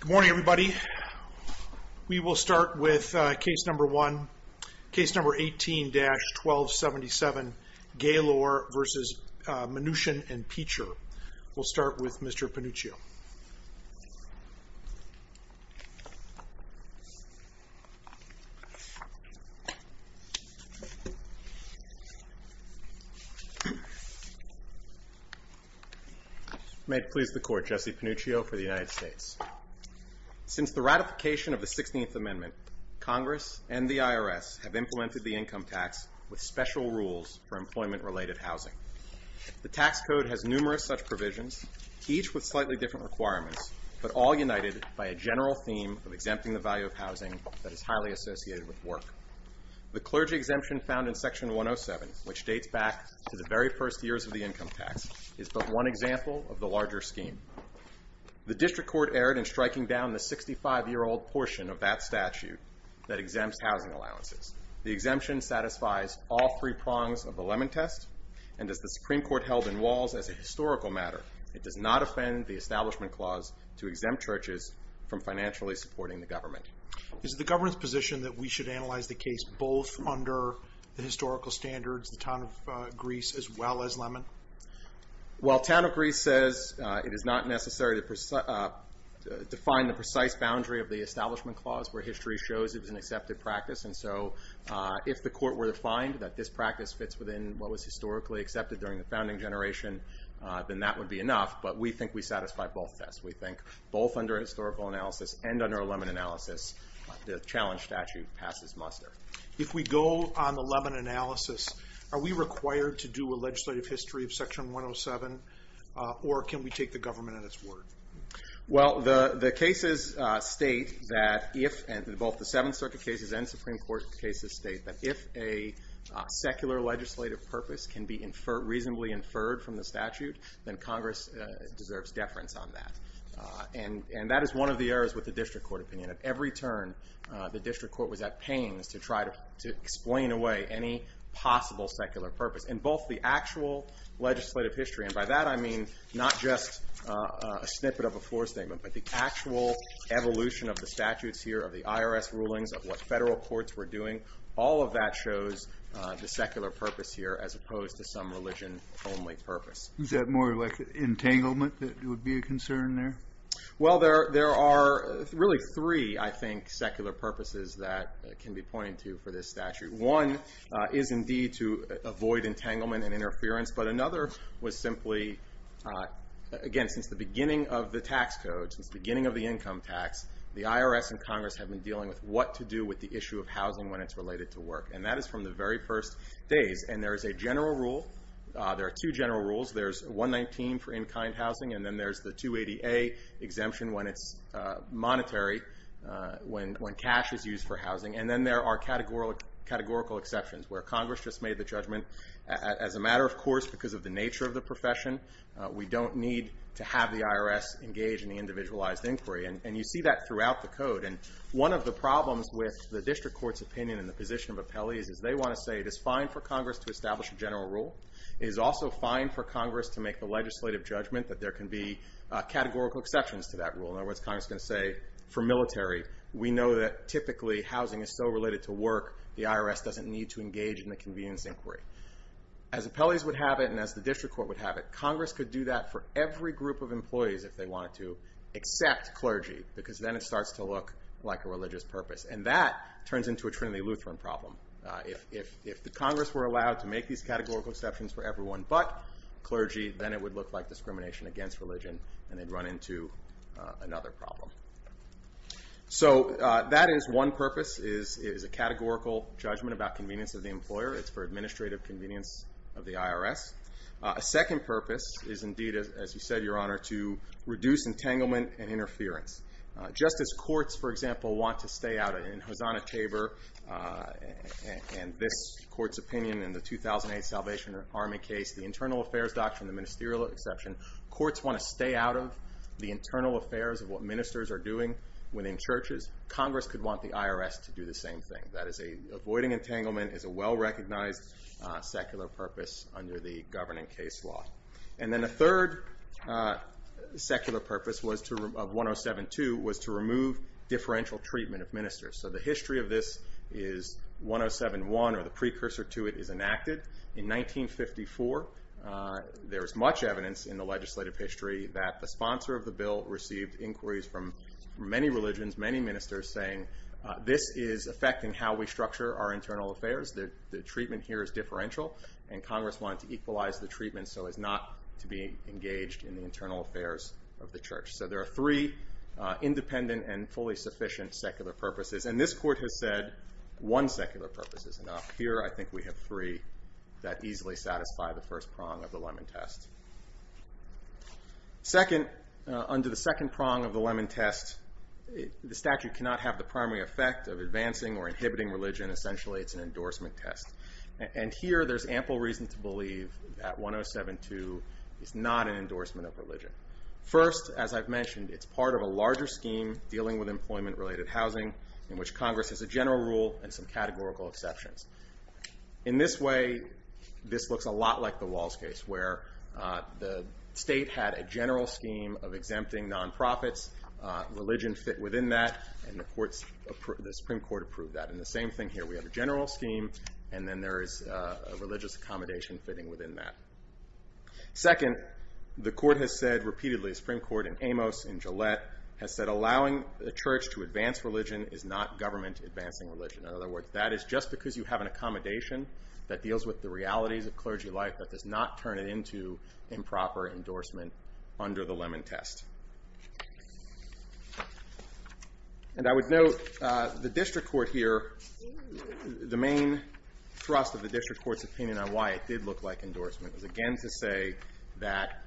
Good morning everybody. We will start with case number one, case number 18-1277 Gaylor v. Mnuchin and Peecher. We'll start with Mr. Pannuccio. May it please the Court, Jesse Pannuccio for the United States. Since the ratification of the 16th Amendment, Congress and the IRS have implemented the income tax with special rules for employment-related housing. The tax code has numerous such provisions, each with slightly different requirements, but all united by a general theme of exempting the value of housing that is highly associated with work. The clergy exemption found in Section 107, which dates back to the very first years of the income tax, is but one example of the larger scheme. The District Court erred in striking down the 65-year-old portion of that statute that exempts housing allowances. The exemption satisfies all three prongs of the It does not offend the Establishment Clause to exempt churches from financially supporting the government. Is it the government's position that we should analyze the case both under the historical standards, the Town of Greece, as well as Lemon? Well Town of Greece says it is not necessary to define the precise boundary of the Establishment Clause where history shows it is an accepted practice, and so if the Court were to find that this practice fits within what was historically accepted during the founding generation, then that would be enough, but we think we satisfy both tests. We think both under a historical analysis and under a Lemon analysis the challenge statute passes muster. If we go on the Lemon analysis, are we required to do a legislative history of Section 107, or can we take the government at its word? Well the cases state that if, and both the Seventh Circuit cases and Supreme Court cases state that if a secular legislative purpose can be inferred, reasonably inferred from the statute, then Congress deserves deference on that, and that is one of the errors with the District Court opinion. At every turn the District Court was at pains to try to explain away any possible secular purpose. In both the actual legislative history, and by that I mean not just a snippet of a floor statement, but the actual evolution of the statutes here, of the IRS rulings, of what federal courts were doing, all of that shows the secular purpose here as opposed to some Is that more like entanglement that would be a concern there? Well there are really three, I think, secular purposes that can be pointed to for this statute. One is indeed to avoid entanglement and interference, but another was simply, again, since the beginning of the tax code, since the beginning of the income tax, the IRS and Congress have been dealing with what to do with the issue of housing when it's related to work, and that from the very first days, and there is a general rule, there are two general rules, there's 119 for in-kind housing, and then there's the 280A exemption when it's monetary, when cash is used for housing, and then there are categorical exceptions, where Congress just made the judgment, as a matter of course, because of the nature of the profession, we don't need to have the IRS engage in the individualized inquiry, and you see that throughout the code, and one of the problems with the district court's opinion and the position of appellees is they want to say it is fine for Congress to establish a general rule, it is also fine for Congress to make the legislative judgment that there can be categorical exceptions to that rule, in other words Congress is going to say, for military, we know that typically housing is still related to work, the IRS doesn't need to engage in the convenience inquiry. As appellees would have it, and as the district court would have it, Congress could do that for every group of employees if they wanted to, except clergy, because then it starts to look like a religious purpose, and that turns into a Trinity Lutheran problem. If the Congress were allowed to make these categorical exceptions for everyone but clergy, then it would look like discrimination against religion, and they'd run into another problem. So that is one purpose, is a categorical judgment about convenience of the employer, it's for administrative convenience of the IRS. A second purpose is indeed, as you said, your honor, to reduce entanglement and interference. Just as courts, for example, want to stay out of it, and Hosanna Tabor and this court's opinion in the 2008 Salvation Army case, the internal affairs doctrine, the ministerial exception, courts want to stay out of the internal affairs of what ministers are doing within churches, Congress could want the IRS to do the same thing, that is avoiding entanglement is a well-recognized secular purpose under the governing case law. And then a third secular purpose of 107.2 was to remove differential treatment of ministers. So the history of this is 107.1, or the precursor to it, is enacted in 1954. There is much evidence in the legislative history that the sponsor of the bill received inquiries from many religions, many ministers saying, this is affecting how we structure our internal affairs, the treatment here is differential, and Congress wanted to equalize the treatment so as not to be engaged in the internal affairs of the church. So there are three independent and fully sufficient secular purposes, and this court has said one secular purpose is enough. Here I think we have three that easily satisfy the first prong of the Lemon Test. Under the second prong of the Lemon Test, the statute cannot have the primary effect of advancing or inhibiting religion, essentially it's an endorsement test. And here there's ample reason to believe that 107.2 is not an endorsement of religion. First, as I've mentioned, it's part of a larger scheme dealing with employment-related housing in which Congress has a general rule and some categorical exceptions. In this way, this looks a lot like the Walls case where the state had a general scheme of exempting non-profits, religion fit within that, and the Supreme Court approved that. And the same thing here, we have a general scheme, and then there is a religious accommodation fitting within that. Second, the court has said repeatedly, the Supreme Court in Amos, in Gillette, has said allowing the church to advance religion is not government advancing religion. In other words, that is just because you have an accommodation that deals with the realities of clergy life, that does not turn it into improper endorsement under the Lemon Test. And I would note, the district court here, the main thrust of the district court's opinion on why it did look like endorsement was, again, to say that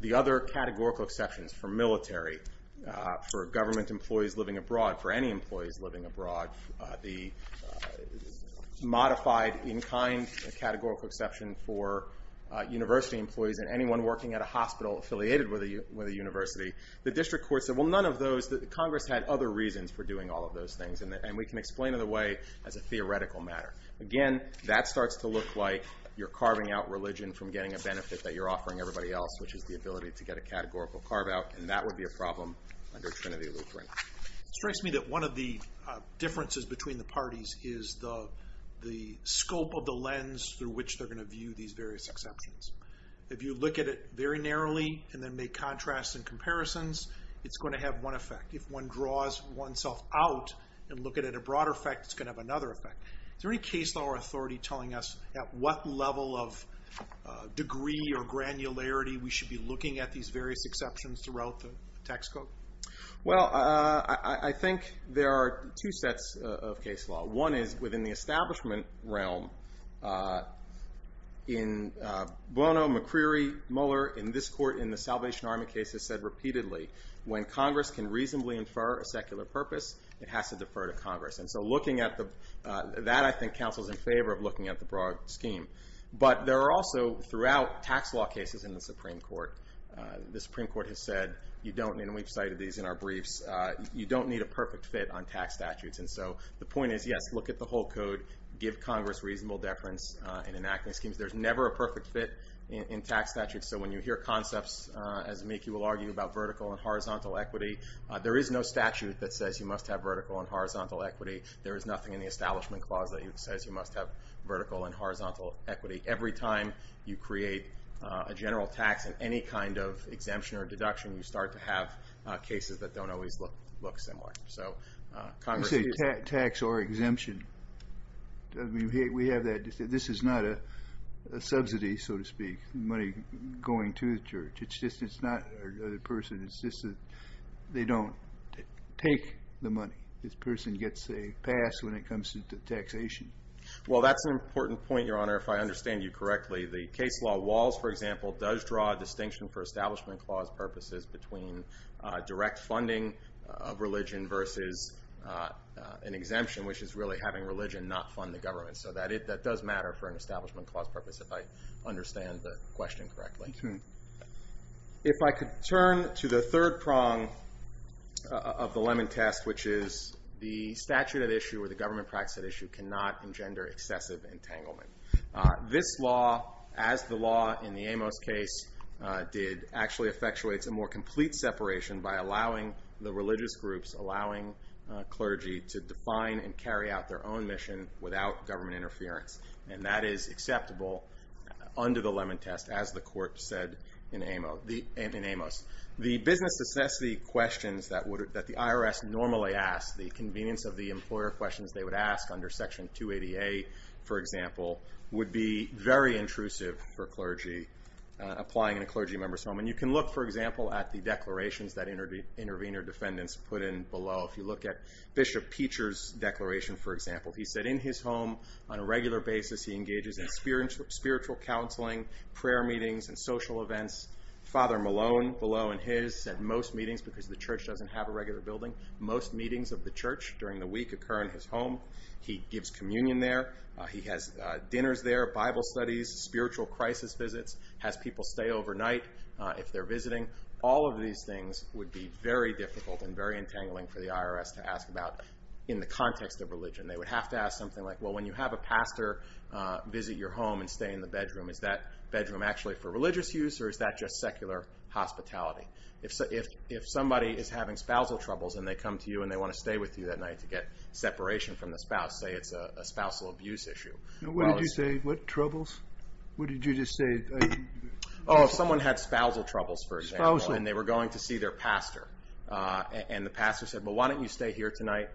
the other categorical exceptions for military, for government employees living abroad, for any employees living abroad, the modified in-kind categorical exception for university employees and anyone working at a hospital affiliated with a university. The district court said, well, none of those, that Congress had other reasons for doing all of those things, and we can explain it away as a theoretical matter. Again, that starts to look like you're carving out religion from getting a benefit that you're offering everybody else, which is the ability to get a categorical carve-out, and that would be a problem under Trinity Lutheran. It strikes me that one of the differences between the parties is the scope of the lens through which they're going to view these various exceptions. If you look at it very narrowly and then make contrasts and comparisons, it's going to have one effect. If one draws oneself out and look at it at a broader effect, it's going to have another effect. Is there any case law or authority telling us at what level of degree or granularity we should be looking at these various exceptions throughout the tax code? Well, I think there are two sets of case law. One is within the establishment realm. In Bono, McCreary, Muller, in this court in the Salvation Army case has said repeatedly, when Congress can reasonably infer a secular purpose, it has to defer to Congress. And so looking at the, that I think counsels in favor of looking at the broad scheme. But there are also throughout tax law cases in the Supreme Court, the Supreme Court has said, you don't, and we've cited these in our briefs, you don't need a perfect fit on tax statutes. And so the point is, yes, look at the whole code. Give Congress reasonable deference in enacting schemes. There's never a perfect fit in tax statutes. So when you hear concepts as Mickey will argue about vertical and horizontal equity, there is no statute that says you must have vertical and horizontal equity. There is nothing in the establishment clause that says you must have vertical and horizontal equity. Every time you create a general tax in any kind of exemption or deduction, you start to have cases that don't always look similar. So Congress- I say tax or exemption. I mean, we have that, this is not a subsidy, so to speak. Money going to the church. It's just, it's not a person, it's just that they don't take the money. This person gets a pass when it comes to taxation. Well, that's an important point, Your Honor, if I understand you correctly. The case law walls, for example, does draw a distinction for versus an exemption, which is really having religion not fund the government. So that does matter for an establishment clause purpose, if I understand the question correctly. If I could turn to the third prong of the lemon test, which is the statute at issue or the government practice at issue cannot engender excessive entanglement. This law, as the law in the Amos case did, actually effectuates a more complete separation by allowing the religious groups, allowing clergy to define and carry out their own mission without government interference. And that is acceptable under the lemon test, as the court said in Amos. The business necessity questions that the IRS normally asks, the convenience of the employer questions they would ask under Section 280A, for example, would be very intrusive for clergy applying in a clergy member's home. And you can look, for example, at the declarations that intervener defendants put in below, if you look at Bishop Peacher's declaration, for example. He said in his home, on a regular basis, he engages in spiritual counseling, prayer meetings, and social events. Father Malone, below in his, said most meetings, because the church doesn't have a regular building, most meetings of the church during the week occur in his home. He gives communion there. He has dinners there, Bible studies, spiritual crisis visits, has people stay overnight if they're visiting. All of these things would be very difficult and very entangling for the IRS to ask about in the context of religion. They would have to ask something like, well, when you have a pastor visit your home and stay in the bedroom, is that bedroom actually for religious use, or is that just secular hospitality? If somebody is having spousal troubles and they come to you and they want to stay with you that night to get separation from the spouse, say it's a spousal abuse issue. Well, it's- What did you say, what troubles? What did you just say? Oh, if someone had spousal troubles, for example, and they were going to see their pastor, and the pastor said, well, why don't you stay here tonight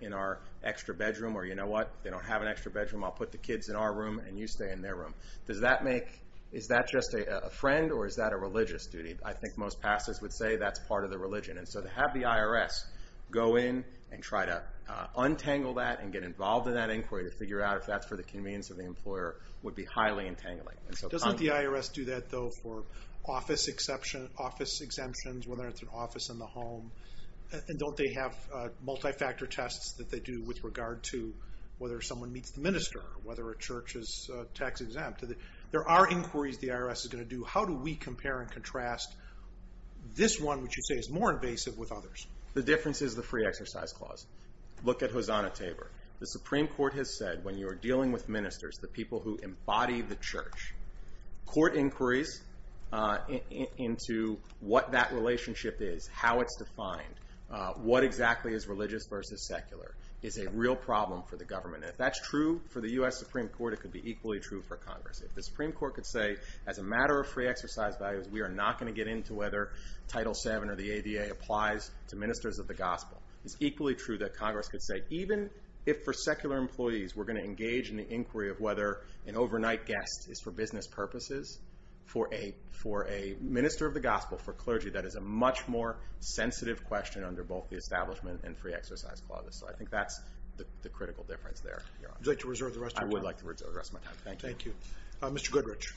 in our extra bedroom? Or you know what, if they don't have an extra bedroom, I'll put the kids in our room and you stay in their room. Does that make, is that just a friend or is that a religious duty? I think most pastors would say that's part of the religion. And so to have the IRS go in and try to untangle that and get involved in that inquiry to figure out if that's for the convenience of the employer would be highly entangling. Doesn't the IRS do that, though, for office exemption, office exemptions, whether it's an office in the home? And don't they have multi-factor tests that they do with regard to whether someone meets the minister, whether a church is tax exempt? There are inquiries the IRS is going to do. How do we compare and contrast this one, which you say is more invasive, with others? The difference is the free exercise clause. Look at Hosanna Tabor. The Supreme Court has said, when you are dealing with ministers, the people who embody the church, court inquiries into what that relationship is, how it's defined, what exactly is religious versus secular, is a real problem for the government. And if that's true for the US Supreme Court, it could be equally true for Congress. If the Supreme Court could say, as a matter of free exercise values, we are not going to get into whether Title VII or the ADA applies to ministers of the gospel. It's equally true that Congress could say, even if for secular employees, we're going to engage in the inquiry of whether an overnight guest is for business purposes, for a minister of the gospel, for clergy, that is a much more sensitive question under both the establishment and free exercise clauses. So I think that's the critical difference there. Would you like to reserve the rest of your time? I would like to reserve the rest of my time. Thank you. Thank you. Mr. Goodrich.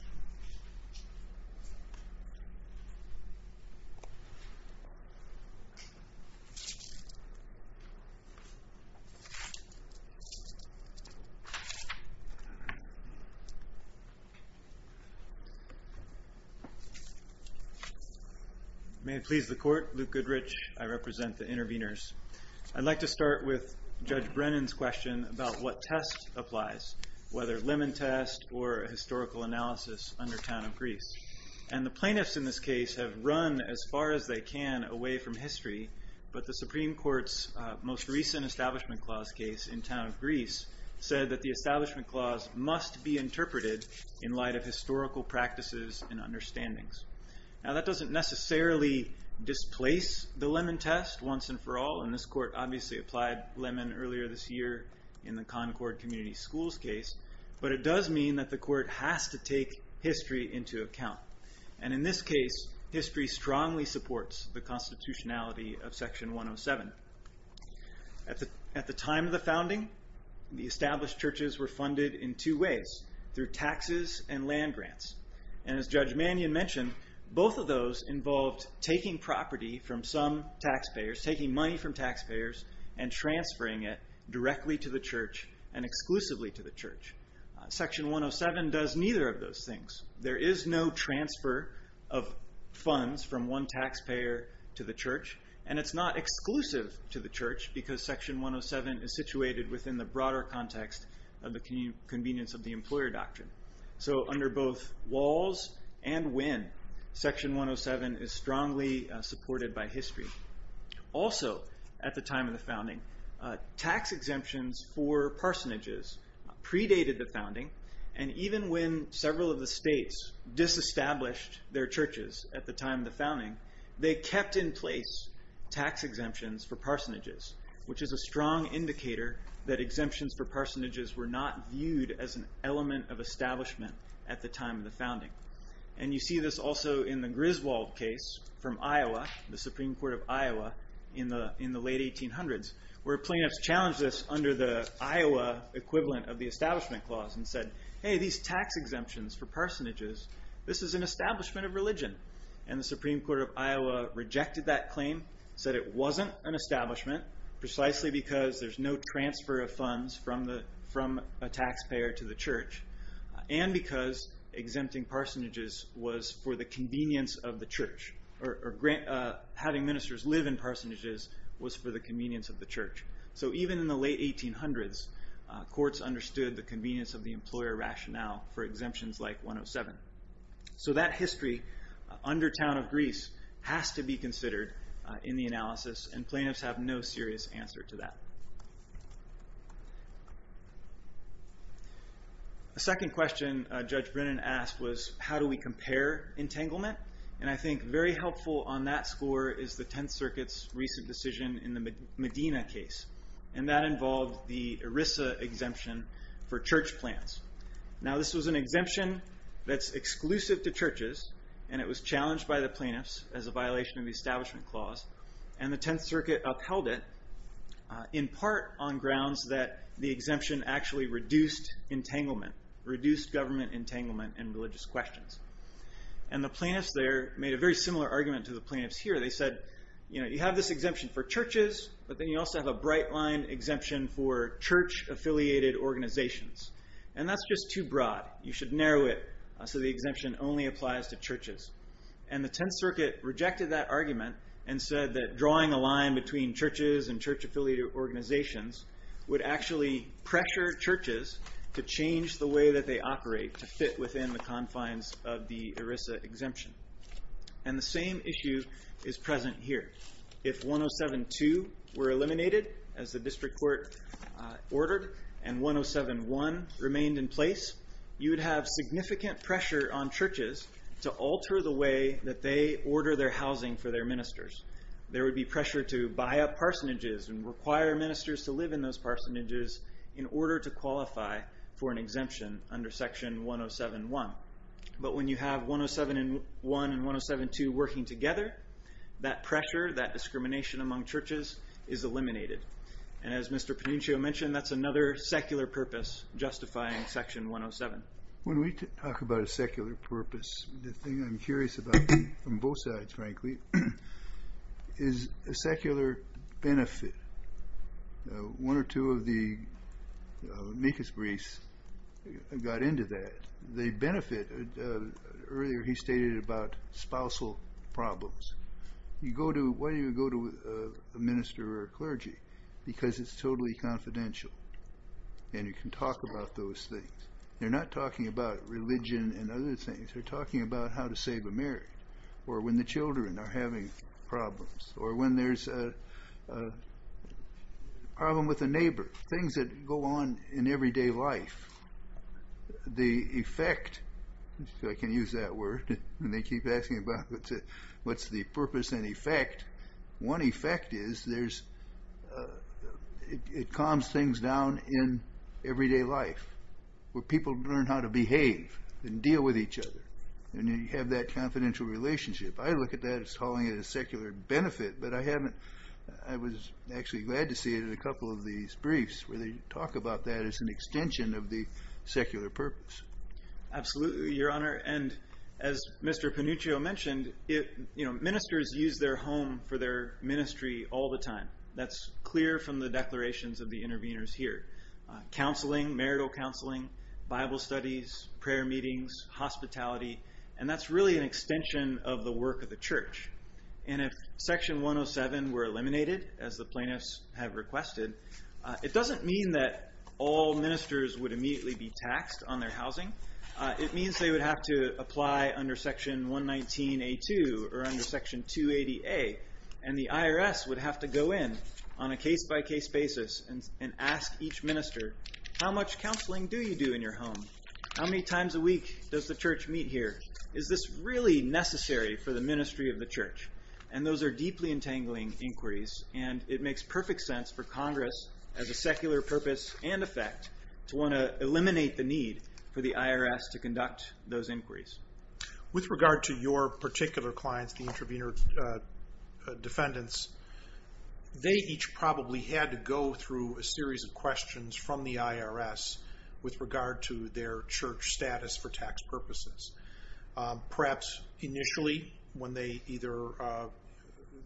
May it please the court, Luke Goodrich, I represent the interveners. I'd like to start with Judge Brennan's question about what test applies, whether lemon test or historical analysis under Town of Greece. And the plaintiffs in this case have run as far as they can away from history. But the Supreme Court's most recent establishment clause case in Town of Greece said that the establishment clause must be interpreted in light of historical practices and understandings. Now that doesn't necessarily displace the lemon test once and for all. And this court obviously applied lemon earlier this year in the Concord Community Schools case. But it does mean that the court has to take history into account. And in this case, history strongly supports the constitutionality of Section 107. At the time of the founding, the established churches were funded in two ways, through taxes and land grants. And as Judge Mannion mentioned, both of those involved taking property from some taxpayers, taking money from taxpayers, and transferring it directly to the church and exclusively to the church. Section 107 does neither of those things. There is no transfer of funds from one taxpayer to the church. And it's not exclusive to the church because Section 107 is situated within the broader context of the convenience of the employer doctrine. So under both walls and win, Section 107 is strongly supported by history. Also, at the time of the founding, tax exemptions for parsonages predated the founding. And even when several of the states disestablished their churches at the time of the founding, they kept in place tax exemptions for parsonages. Which is a strong indicator that exemptions for parsonages were not viewed as an element of establishment at the time of the founding. And you see this also in the Griswold case from Iowa, the Supreme Court of Iowa in the late 1800s, where plaintiffs challenged this under the Iowa equivalent of the establishment clause and said, hey, these tax exemptions for parsonages, this is an establishment of religion. And the Supreme Court of Iowa rejected that claim, said it wasn't an establishment precisely because there's no transfer of funds from a taxpayer to the church. And because exempting parsonages was for the convenience of the church. Or having ministers live in parsonages was for the convenience of the church. So even in the late 1800s, courts understood the convenience of the employer rationale for exemptions like 107. So that history, under Town of Gris, has to be considered in the analysis. And plaintiffs have no serious answer to that. The second question Judge Brennan asked was, how do we compare entanglement? And I think very helpful on that score is the Tenth Circuit's recent decision in the Medina case, and that involved the ERISA exemption for church plants. Now this was an exemption that's exclusive to churches, and it was challenged by the plaintiffs as a violation of the establishment clause. And the Tenth Circuit upheld it in part on grounds that the exemption actually reduced entanglement, reduced government entanglement in religious questions. And the plaintiffs there made a very similar argument to the plaintiffs here. They said, you have this exemption for churches, but then you also have a bright line exemption for church-affiliated organizations. And that's just too broad. You should narrow it so the exemption only applies to churches. And the Tenth Circuit rejected that argument and said that drawing a line between churches and church-affiliated organizations would actually pressure churches to change the way that they operate to fit within the confines of the ERISA exemption. And the same issue is present here. If 107-2 were eliminated, as the district court ordered, and 107-1 remained in place, you would have significant pressure on churches to alter the way that they order their housing for their ministers. There would be pressure to buy up parsonages and require ministers to live in those parsonages in order to qualify for an exemption under section 107-1. But when you have 107-1 and 107-2 working together, that pressure, that discrimination among churches is eliminated. And as Mr. Pannincio mentioned, that's another secular purpose justifying section 107. When we talk about a secular purpose, the thing I'm curious about, on both sides, frankly, is a secular benefit. One or two of the amicus briefs got into that. The benefit, earlier he stated about spousal problems. You go to, why do you go to a minister or a clergy? Because it's totally confidential, and you can talk about those things. They're not talking about religion and other things. They're talking about how to save a marriage, or when the children are having things that go on in everyday life. The effect, if I can use that word, and they keep asking about what's the purpose and effect, one effect is there's, it calms things down in everyday life, where people learn how to behave and deal with each other. And you have that confidential relationship. I look at that as calling it a secular benefit, but I haven't, I was actually glad to see it in a couple of these briefs, where they talk about that as an extension of the secular purpose. Absolutely, your honor. And as Mr. Pannuccio mentioned, ministers use their home for their ministry all the time. That's clear from the declarations of the interveners here. Counseling, marital counseling, Bible studies, prayer meetings, hospitality, and that's really an extension of the work of the church. And if section 107 were eliminated, as the plaintiffs have requested, it doesn't mean that all ministers would immediately be taxed on their housing. It means they would have to apply under section 119A2 or under section 280A. And the IRS would have to go in on a case by case basis and ask each minister, how much counseling do you do in your home? How many times a week does the church meet here? Is this really necessary for the ministry of the church? And those are deeply entangling inquiries. And it makes perfect sense for Congress, as a secular purpose and effect, to want to eliminate the need for the IRS to conduct those inquiries. With regard to your particular clients, the intervener defendants, they each probably had to go through a series of questions from the IRS with regard to their church status for tax purposes. Perhaps initially, when they either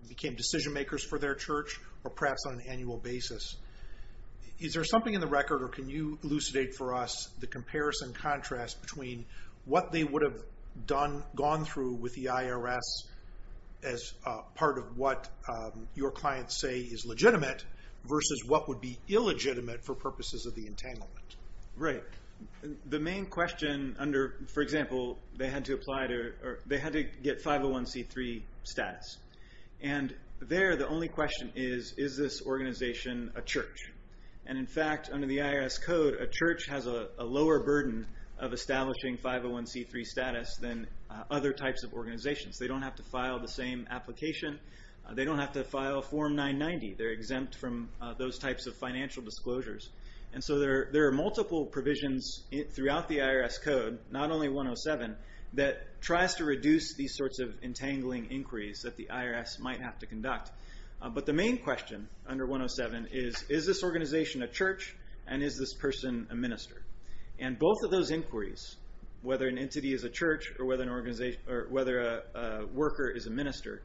became decision makers for their church, or perhaps on an annual basis. Is there something in the record, or can you elucidate for us, the comparison contrast between what they would have done, gone through with the IRS as part of what your clients say is legitimate, versus what would be illegitimate for purposes of the entanglement. Right. The main question under, for example, they had to get 501c3 status. And there, the only question is, is this organization a church? And in fact, under the IRS code, a church has a lower burden of establishing 501c3 status than other types of organizations. They don't have to file the same application. They don't have to file Form 990. They're exempt from those types of financial disclosures. And so there are multiple provisions throughout the IRS code, not only 107, that tries to reduce these sorts of entangling inquiries that the IRS might have to conduct. But the main question under 107 is, is this organization a church? And is this person a minister? And both of those inquiries, whether an entity is a church, or whether a worker is a minister,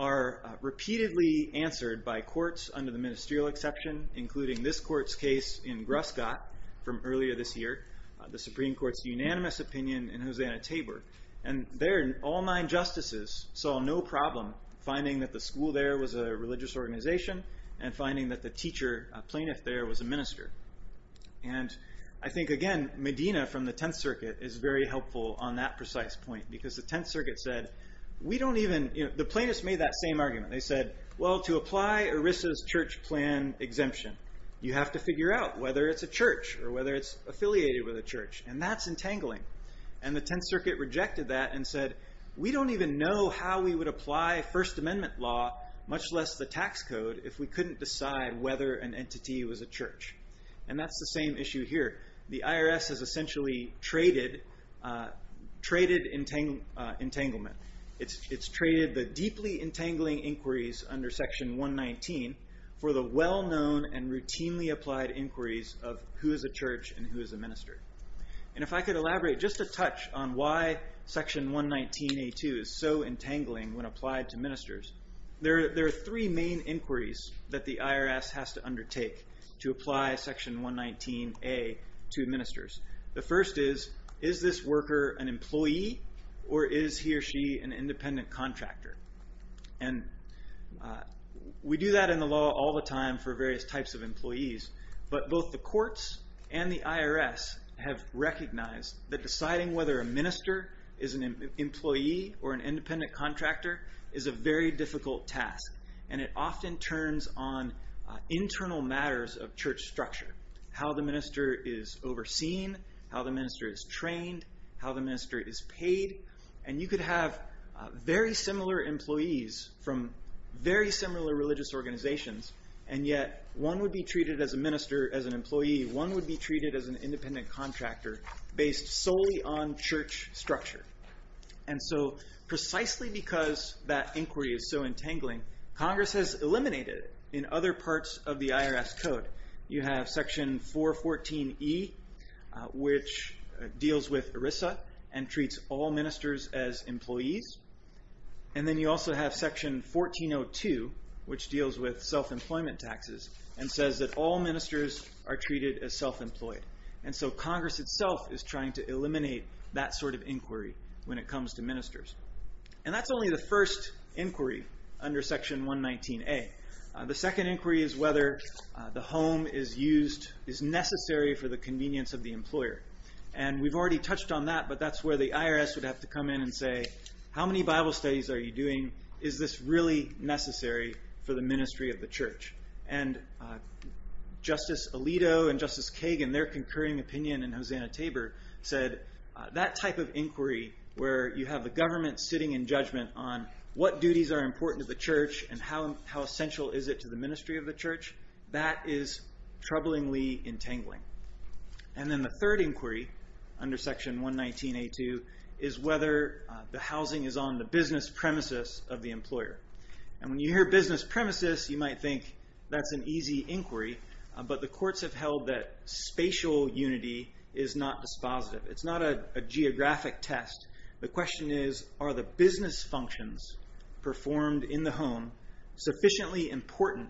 are repeatedly answered by courts, under the ministerial exception, including this court's case in Gruscott from earlier this year, the Supreme Court's unanimous opinion in Hosanna-Tabor. And there, all nine justices saw no problem finding that the school there was a religious organization, and finding that the teacher, plaintiff there, was a minister. And I think, again, Medina from the Tenth Circuit is very helpful on that precise point, because the Tenth Circuit said, we don't even, the plaintiffs made that same argument. They said, well, to apply ERISA's church plan exemption, you have to figure out whether it's a church, or whether it's affiliated with a church, and that's entangling. And the Tenth Circuit rejected that and said, we don't even know how we would apply First Amendment law, much less the tax code, if we couldn't decide whether an entity was a church. And that's the same issue here. The IRS has essentially traded entanglement. It's traded the deeply entangling inquiries under Section 119 for the well-known and routinely applied inquiries of who is a church and who is a minister. And if I could elaborate just a touch on why Section 119A2 is so entangling when applied to ministers, there are three main inquiries that the IRS has to undertake to apply Section 119A to ministers. The first is, is this worker an employee, or is he or she an independent contractor? And we do that in the law all the time for various types of employees. But both the courts and the IRS have recognized that deciding whether a minister is an employee or an independent contractor is a very difficult task. And it often turns on internal matters of church structure. How the minister is overseen, how the minister is trained, how the minister is paid. And you could have very similar employees from very similar religious organizations. And yet, one would be treated as a minister as an employee. One would be treated as an independent contractor based solely on church structure. And so precisely because that inquiry is so entangling, Congress has eliminated in other parts of the IRS code. You have Section 414E, which deals with ERISA and treats all ministers as employees. And then you also have Section 1402, which deals with self-employment taxes, and says that all ministers are treated as self-employed. And so Congress itself is trying to eliminate that sort of inquiry when it comes to ministers. And that's only the first inquiry under Section 119A. The second inquiry is whether the home is used, is necessary for the convenience of the employer. And we've already touched on that, but that's where the IRS would have to come in and say, how many Bible studies are you doing? Is this really necessary for the ministry of the church? And Justice Alito and Justice Kagan, their concurring opinion and Hosanna Tabor said, that type of inquiry where you have the government sitting in and saying, how essential is it to the ministry of the church? That is troublingly entangling. And then the third inquiry under Section 119A2 is whether the housing is on the business premises of the employer. And when you hear business premises, you might think that's an easy inquiry, but the courts have held that spatial unity is not dispositive. It's not a geographic test. The question is, are the business functions performed in the home sufficiently important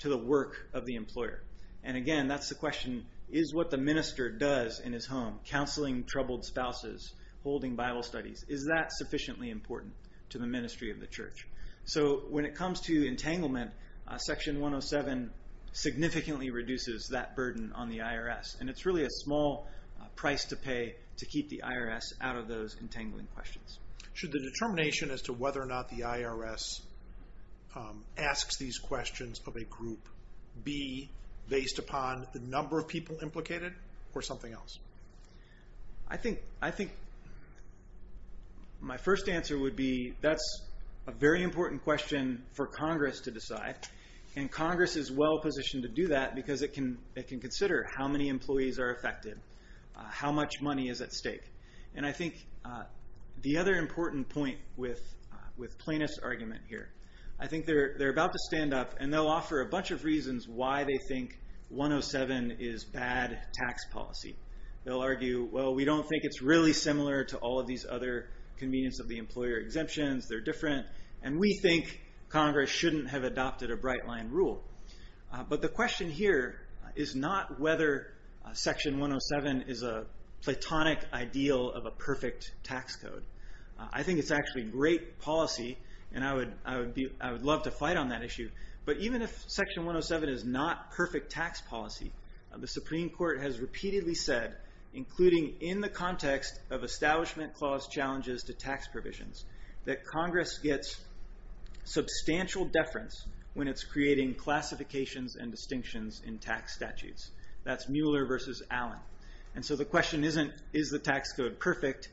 to the work of the employer? And again, that's the question, is what the minister does in his home, counseling troubled spouses, holding Bible studies, is that sufficiently important to the ministry of the church? So when it comes to entanglement, Section 107 significantly reduces that burden on the IRS. And it's really a small price to pay to keep the IRS out of those entangling questions. Should the determination as to whether or not the IRS asks these questions of a group be based upon the number of people implicated or something else? I think my first answer would be, that's a very important question for Congress to decide. And Congress is well positioned to do that because it can consider how many employees are affected, how much money is at stake. And I think the other important point with Plaintiff's argument here, I think they're about to stand up and they'll offer a bunch of reasons why they think 107 is bad tax policy. They'll argue, well, we don't think it's really similar to all of these other convenience of the employer exemptions. They're different. And we think Congress shouldn't have adopted a bright line rule. But the question here is not whether Section 107 is a platonic ideal of a perfect tax code. I think it's actually great policy and I would love to fight on that issue. But even if Section 107 is not perfect tax policy, the Supreme Court has repeatedly said, including in the context of establishment clause challenges to tax provisions, that Congress gets substantial deference when it's creating classifications and distinctions in tax statutes. That's Mueller versus Allen. And so the question isn't, is the tax code perfect?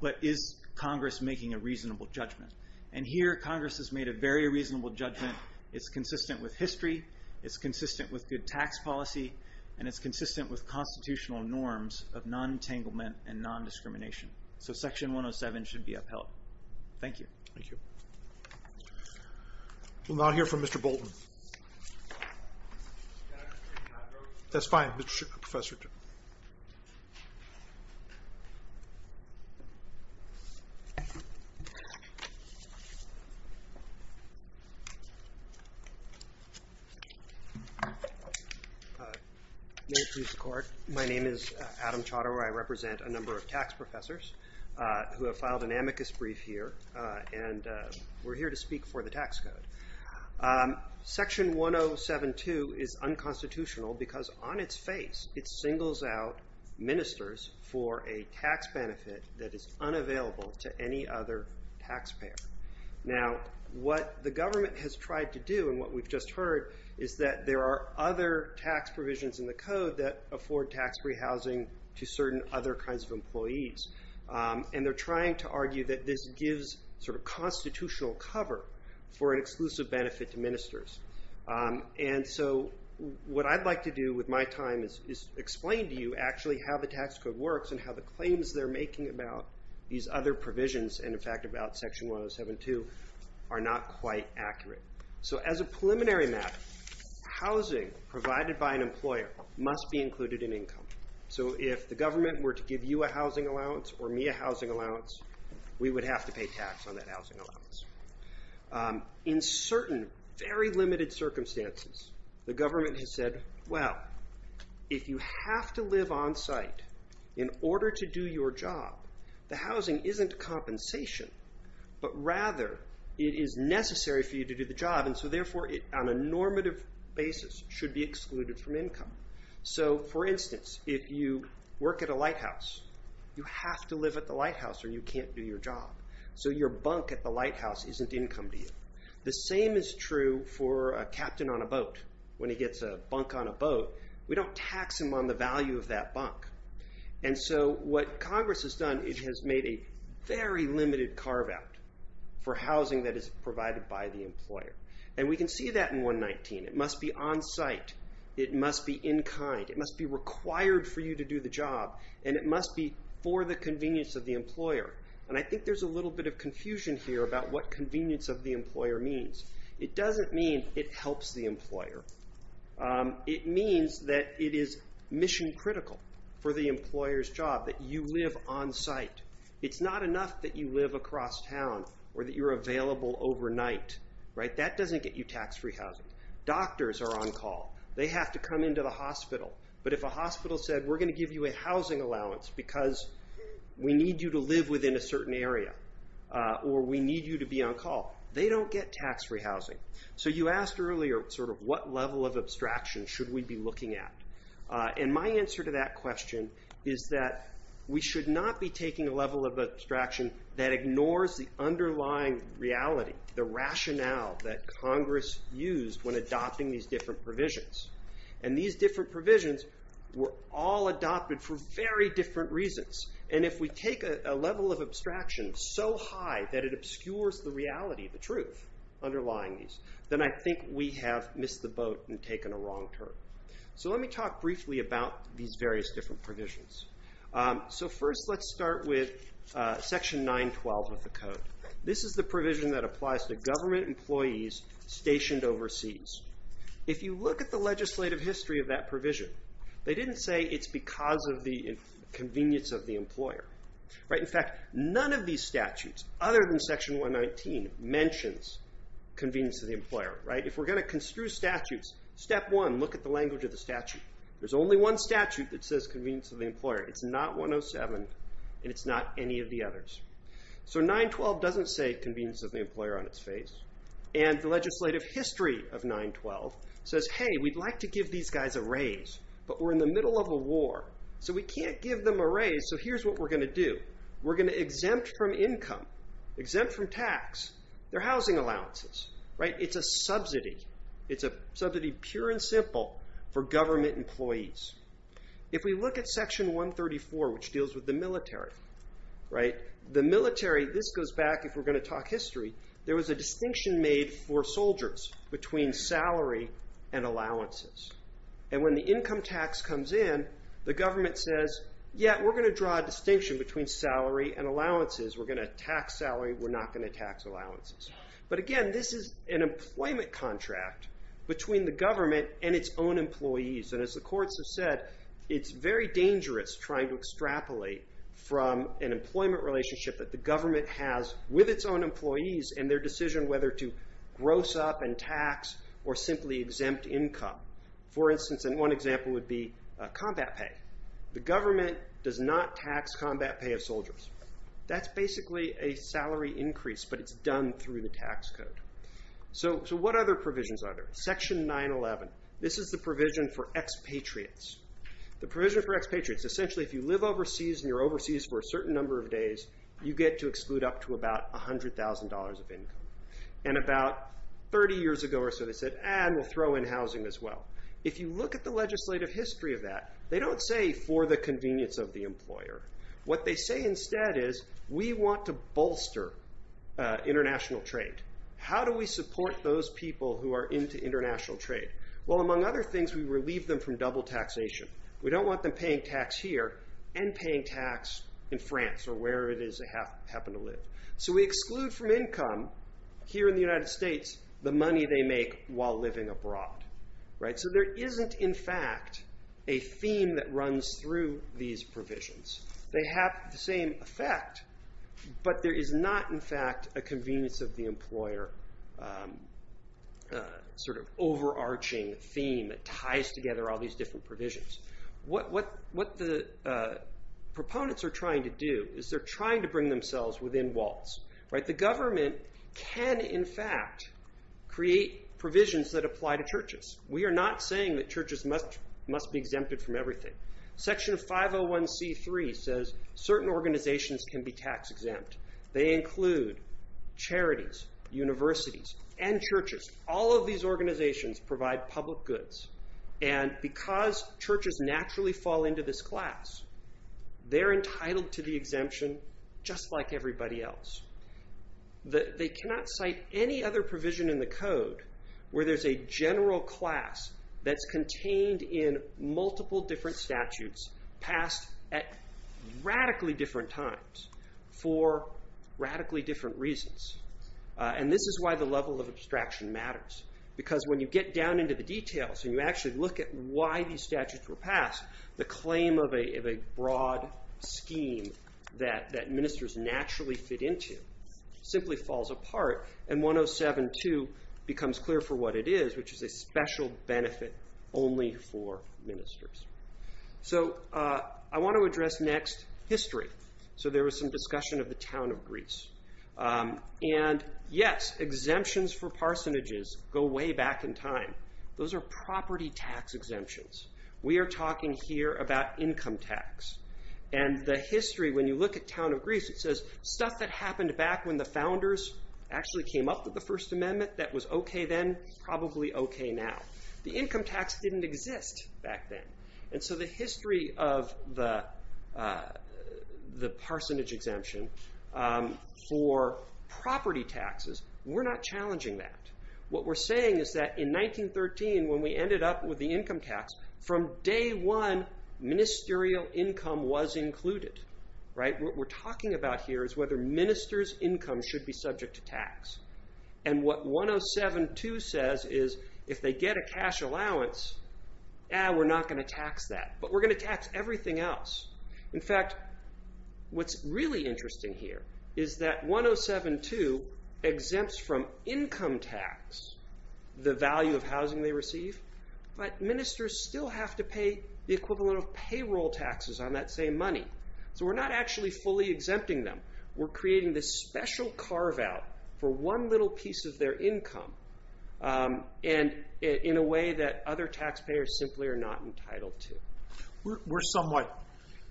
But is Congress making a reasonable judgment? And here, Congress has made a very reasonable judgment. It's consistent with history. It's consistent with good tax policy. And it's consistent with constitutional norms of non-entanglement and non-discrimination. So Section 107 should be upheld. Thank you. Thank you. We'll now hear from Mr. Bolton. Can I ask a brief intro? That's fine, Professor. May it please the Court. My name is Adam Chaudhary. I represent a number of tax professors who have filed an amicus brief here. And we're here to speak for the tax code. Section 107-2 is unconstitutional because on its face, it singles out ministers for a tax benefit that is unavailable to any other taxpayer. Now, what the government has tried to do, and what we've just heard, is that there are other tax provisions in the code that afford tax-free housing to certain other kinds of employees. And they're trying to argue that this gives sort of constitutional cover for an exclusive benefit to ministers. And so what I'd like to do with my time is explain to you actually how the tax code works and how the claims they're making about these other provisions, and in fact about Section 107-2, are not quite accurate. So as a preliminary map, housing provided by an employer must be included in income. So if the government were to give you a housing allowance or me a housing allowance, we would have to pay tax on that housing allowance. In certain very limited circumstances, the government has said, well, if you have to live on site in order to do your job, the housing isn't compensation, but rather it is necessary for you to do the job. And so therefore, on a normative basis, should be excluded from income. So for instance, if you work at a lighthouse, you have to live at the lighthouse or you can't do your job. So your bunk at the lighthouse isn't income to you. The same is true for a captain on a boat. When he gets a bunk on a boat, we don't tax him on the value of that bunk. And so what Congress has done, it has made a very limited carve-out for housing that is provided by the employer. And we can see that in 119. It must be on site. It must be in kind. It must be required for you to do the job. And it must be for the convenience of the employer. And I think there's a little bit of confusion here about what convenience of the employer means. It doesn't mean it helps the employer. It means that it is mission critical for the employer's job that you live on site. It's not enough that you live across town or that you're available overnight, right? That doesn't get you tax-free housing. Doctors are on call. They have to come into the hospital. But if a hospital said, we're going to give you a housing allowance because we need you to live within a certain area or we need you to be on call, they don't get tax-free housing. So you asked earlier sort of what level of abstraction should we be looking at? And my answer to that question is that we should not be taking a level of abstraction that ignores the underlying reality, the rationale that Congress used when adopting these different provisions. And these different provisions were all adopted for very different reasons. And if we take a level of abstraction so high that it obscures the reality, the truth underlying these, then I think we have missed the boat and taken a wrong turn. So let me talk briefly about these various different provisions. So first, let's start with Section 912 of the Code. This is the provision that applies to government employees stationed overseas. If you look at the legislative history of that provision, they didn't say it's because of the convenience of the employer. In fact, none of these statutes, other than Section 119, mentions convenience of the employer. If we're going to construe statutes, step one, look at the language of the statute. There's only one statute that says convenience of the employer. It's not 107, and it's not any of the others. So 912 doesn't say convenience of the employer on its face. And the legislative history of 912 says, hey, we'd like to give these guys a raise, but we're in the middle of a war, so we can't give them a raise, so here's what we're going to do. We're going to exempt from income, exempt from tax their housing allowances, right? It's a subsidy. It's a subsidy, pure and simple, for government employees. If we look at Section 134, which deals with the military, right, the military, this goes back, if we're going to talk history, there was a distinction made for soldiers between salary and allowances. And when the income tax comes in, the government says, yeah, we're going to draw a distinction between salary and allowances. We're going to tax salary. We're not going to tax allowances. But again, this is an employment contract between the government and its own employees. And as the courts have said, it's very dangerous trying to extrapolate from an employment relationship that the government has with its own employees and their decision whether to gross up and tax or simply exempt income. For instance, and one example would be combat pay. The government does not tax combat pay of soldiers. That's basically a salary increase, but it's done through the tax code. So what other provisions are there? Section 911, this is the provision for expatriates. The provision for expatriates, essentially, if you live overseas and you're overseas for a certain number of days, you get to exclude up to about $100,000 of income. And about 30 years ago or so, they said, ah, we'll throw in housing as well. If you look at the legislative history of that, they don't say for the convenience of the employer. What they say instead is, we want to bolster international trade. How do we support those people who are into international trade? Well, among other things, we relieve them from double taxation. We don't want them paying tax here and paying tax in France or where it is they happen to live. So we exclude from income here in the United States the money they make while living abroad, right? So there isn't, in fact, a theme that runs through these provisions. They have the same effect, but there is not, in fact, a convenience of the employer sort of overarching theme that ties together all these different provisions. What the proponents are trying to do is they're trying to bring themselves within walls, right? The government can, in fact, create provisions that apply to churches. We are not saying that churches must be exempted from everything. Section 501c3 says certain organizations can be tax exempt. They include charities, universities, and churches. All of these organizations provide public goods, and because churches naturally fall into this class, they're entitled to the exemption just like everybody else. They cannot cite any other provision in the code where there's a general class that's contained in multiple different statutes passed at radically different times for radically different reasons. And this is why the level of abstraction matters, because when you get down into the details and you actually look at why these statutes were passed, the claim of a broad scheme that ministers naturally fit into simply falls apart, and 107.2 becomes clear for what it is, which is a special benefit only for ministers. So I want to address next history. So there was some discussion of the town of Greece. And yes, exemptions for parsonages go way back in time. Those are property tax exemptions. We are talking here about income tax. And the history, when you look at town of Greece, it says stuff that happened back when the founders actually came up with the First Amendment that was okay then, probably okay now. The income tax didn't exist back then. And so the history of the parsonage exemption for property taxes, we're not challenging that. What we're saying is that in 1913, when we ended up with the income tax, from day one, ministerial income was included, right? What we're talking about here is whether ministers' income should be subject to tax. And what 107.2 says is, if they get a cash allowance, eh, we're not going to tax that. But we're going to tax everything else. In fact, what's really interesting here is that 107.2 exempts from income tax the value of housing they receive, but ministers still have to pay the equivalent of payroll taxes on that same money. So we're not actually fully exempting them. We're creating this special carve-out for one little piece of their income, and in a way that other taxpayers simply are not entitled to. We're somewhat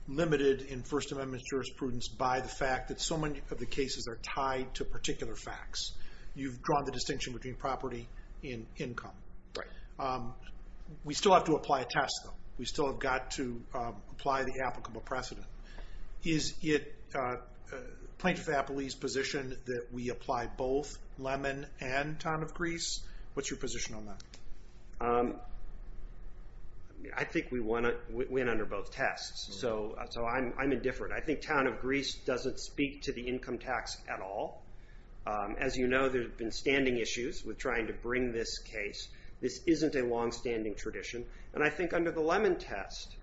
limited in First Amendment jurisprudence by the fact that so many of the cases are tied to particular facts. You've drawn the distinction between property and income. Right. We still have to apply a test, though. We still have got to apply the applicable precedent. Is it Plaintiff Appley's position that we apply both Lemon and Town of Greece? What's your position on that? I think we went under both tests, so I'm indifferent. I think Town of Greece doesn't speak to the income tax at all. As you know, there have been standing issues with trying to bring this case. This isn't a longstanding tradition, and I think under the Lemon test,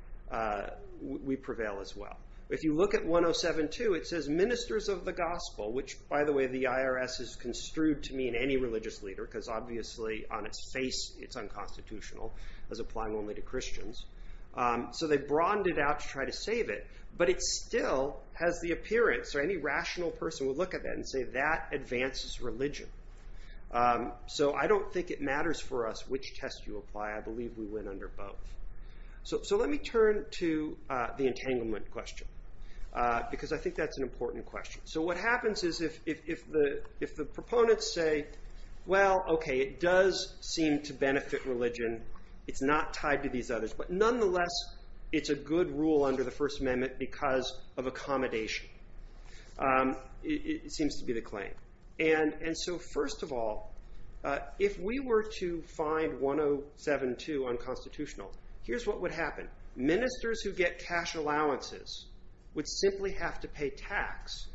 we prevail as well. If you look at 107.2, it says Ministers of the Gospel, which, by the way, the IRS has construed to me in any religious leader, because obviously on its face it's unconstitutional, as applying only to Christians. So they've broadened it out to try to save it, but it still has the appearance, or any rational person would look at that and say that advances religion. So I don't think it matters for us which test you apply. I believe we went under both. So let me turn to the entanglement question, because I think that's an important question. So what happens is if the proponents say, well, okay, it does seem to benefit religion. It's not tied to these others, but nonetheless, it's a good rule under the First Amendment because of accommodation, it seems to be the claim. And so first of all, if we were to find 107.2 unconstitutional here's what would happen. Ministers who get cash allowances would simply have to pay tax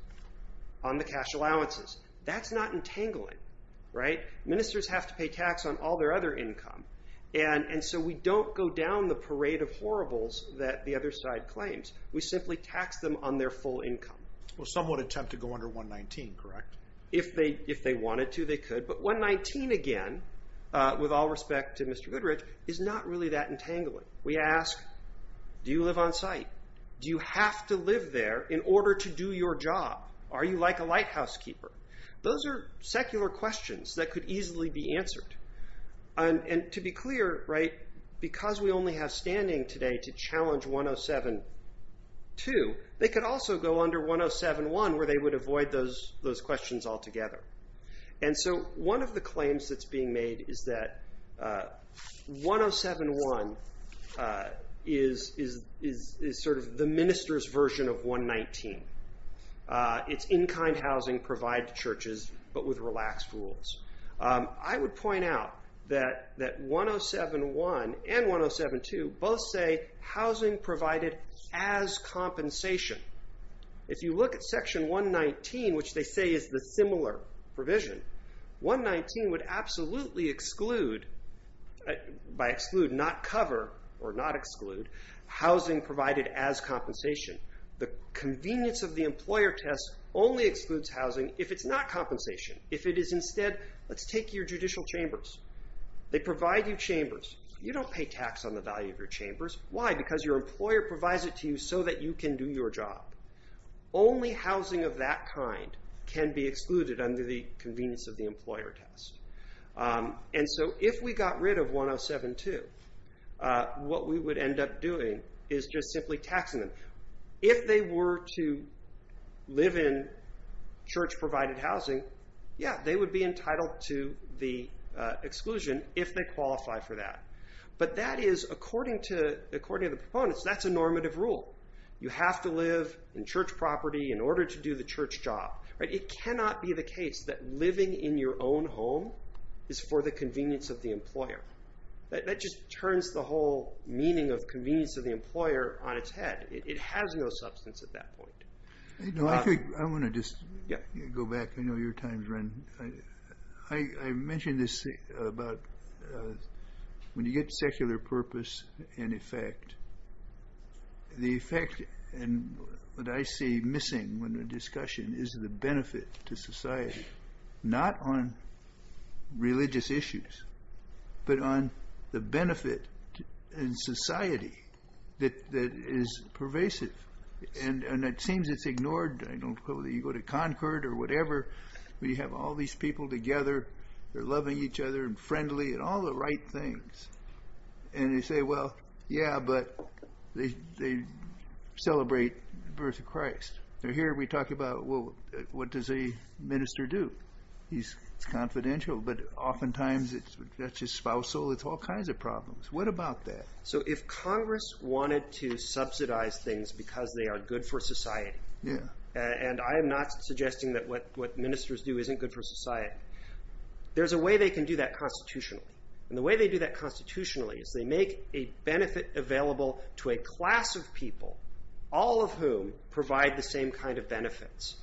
on the cash allowances. That's not entangling, right? Ministers have to pay tax on all their other income, and so we don't go down the parade of horribles that the other side claims. We simply tax them on their full income. Well, some would attempt to go under 119, correct? If they wanted to, they could, but 119 again, with all respect to Mr. Goodrich, is not really that entangling. We ask, do you live on site? Do you have to live there in order to do your job? Are you like a lighthouse keeper? Those are secular questions that could easily be answered. And to be clear, right, because we only have standing today to challenge 107.2, they could also go under 107.1 where they would avoid those questions altogether. And so one of the claims that's being made is that 107.1 is sort of the minister's version of 119. It's in-kind housing provided to churches, but with relaxed rules. I would point out that 107.1 and 107.2 both say housing provided as compensation. If you look at section 119, which they say is the similar provision, 119 would absolutely exclude, by exclude not cover or not exclude, housing provided as compensation. The convenience of the employer test only excludes housing if it's not compensation. If it is instead, let's take your judicial chambers. They provide you chambers. You don't pay tax on the value of your chambers. Why? Because your employer provides it to you so that you can do your job. Only housing of that kind can be excluded under the convenience of the employer test. And so if we got rid of 107.2, what we would end up doing is just simply taxing them. If they were to live in church provided housing, yeah, they would be entitled to the exclusion if they qualify for that. But that is, according to the proponents, that's a normative rule. You have to live in church property in order to do the church job. It cannot be the case that living in your own home is for the convenience of the employer. That just turns the whole meaning of convenience of the employer on its head. It has no substance at that point. I think I wanna just go back. I know your time's running. I mentioned this about when you get secular purpose and effect, the effect and what I see missing when the discussion is the benefit to society, not on religious issues, but on the benefit in society that is pervasive. And it seems it's ignored. I don't know whether you go to Concord or whatever, but you have all these people together. They're loving each other and friendly and all the right things. And they say, well, yeah, but they celebrate the birth of Christ. Now here we talk about, well, what does a minister do? He's confidential, but oftentimes that's his spousal. It's all kinds of problems. What about that? So if Congress wanted to subsidize things because they are good for society, and I am not suggesting that what ministers do isn't good for society, there's a way they can do that constitutionally. And the way they do that constitutionally is they make a benefit available to a class of people, all of whom provide the same kind of benefits,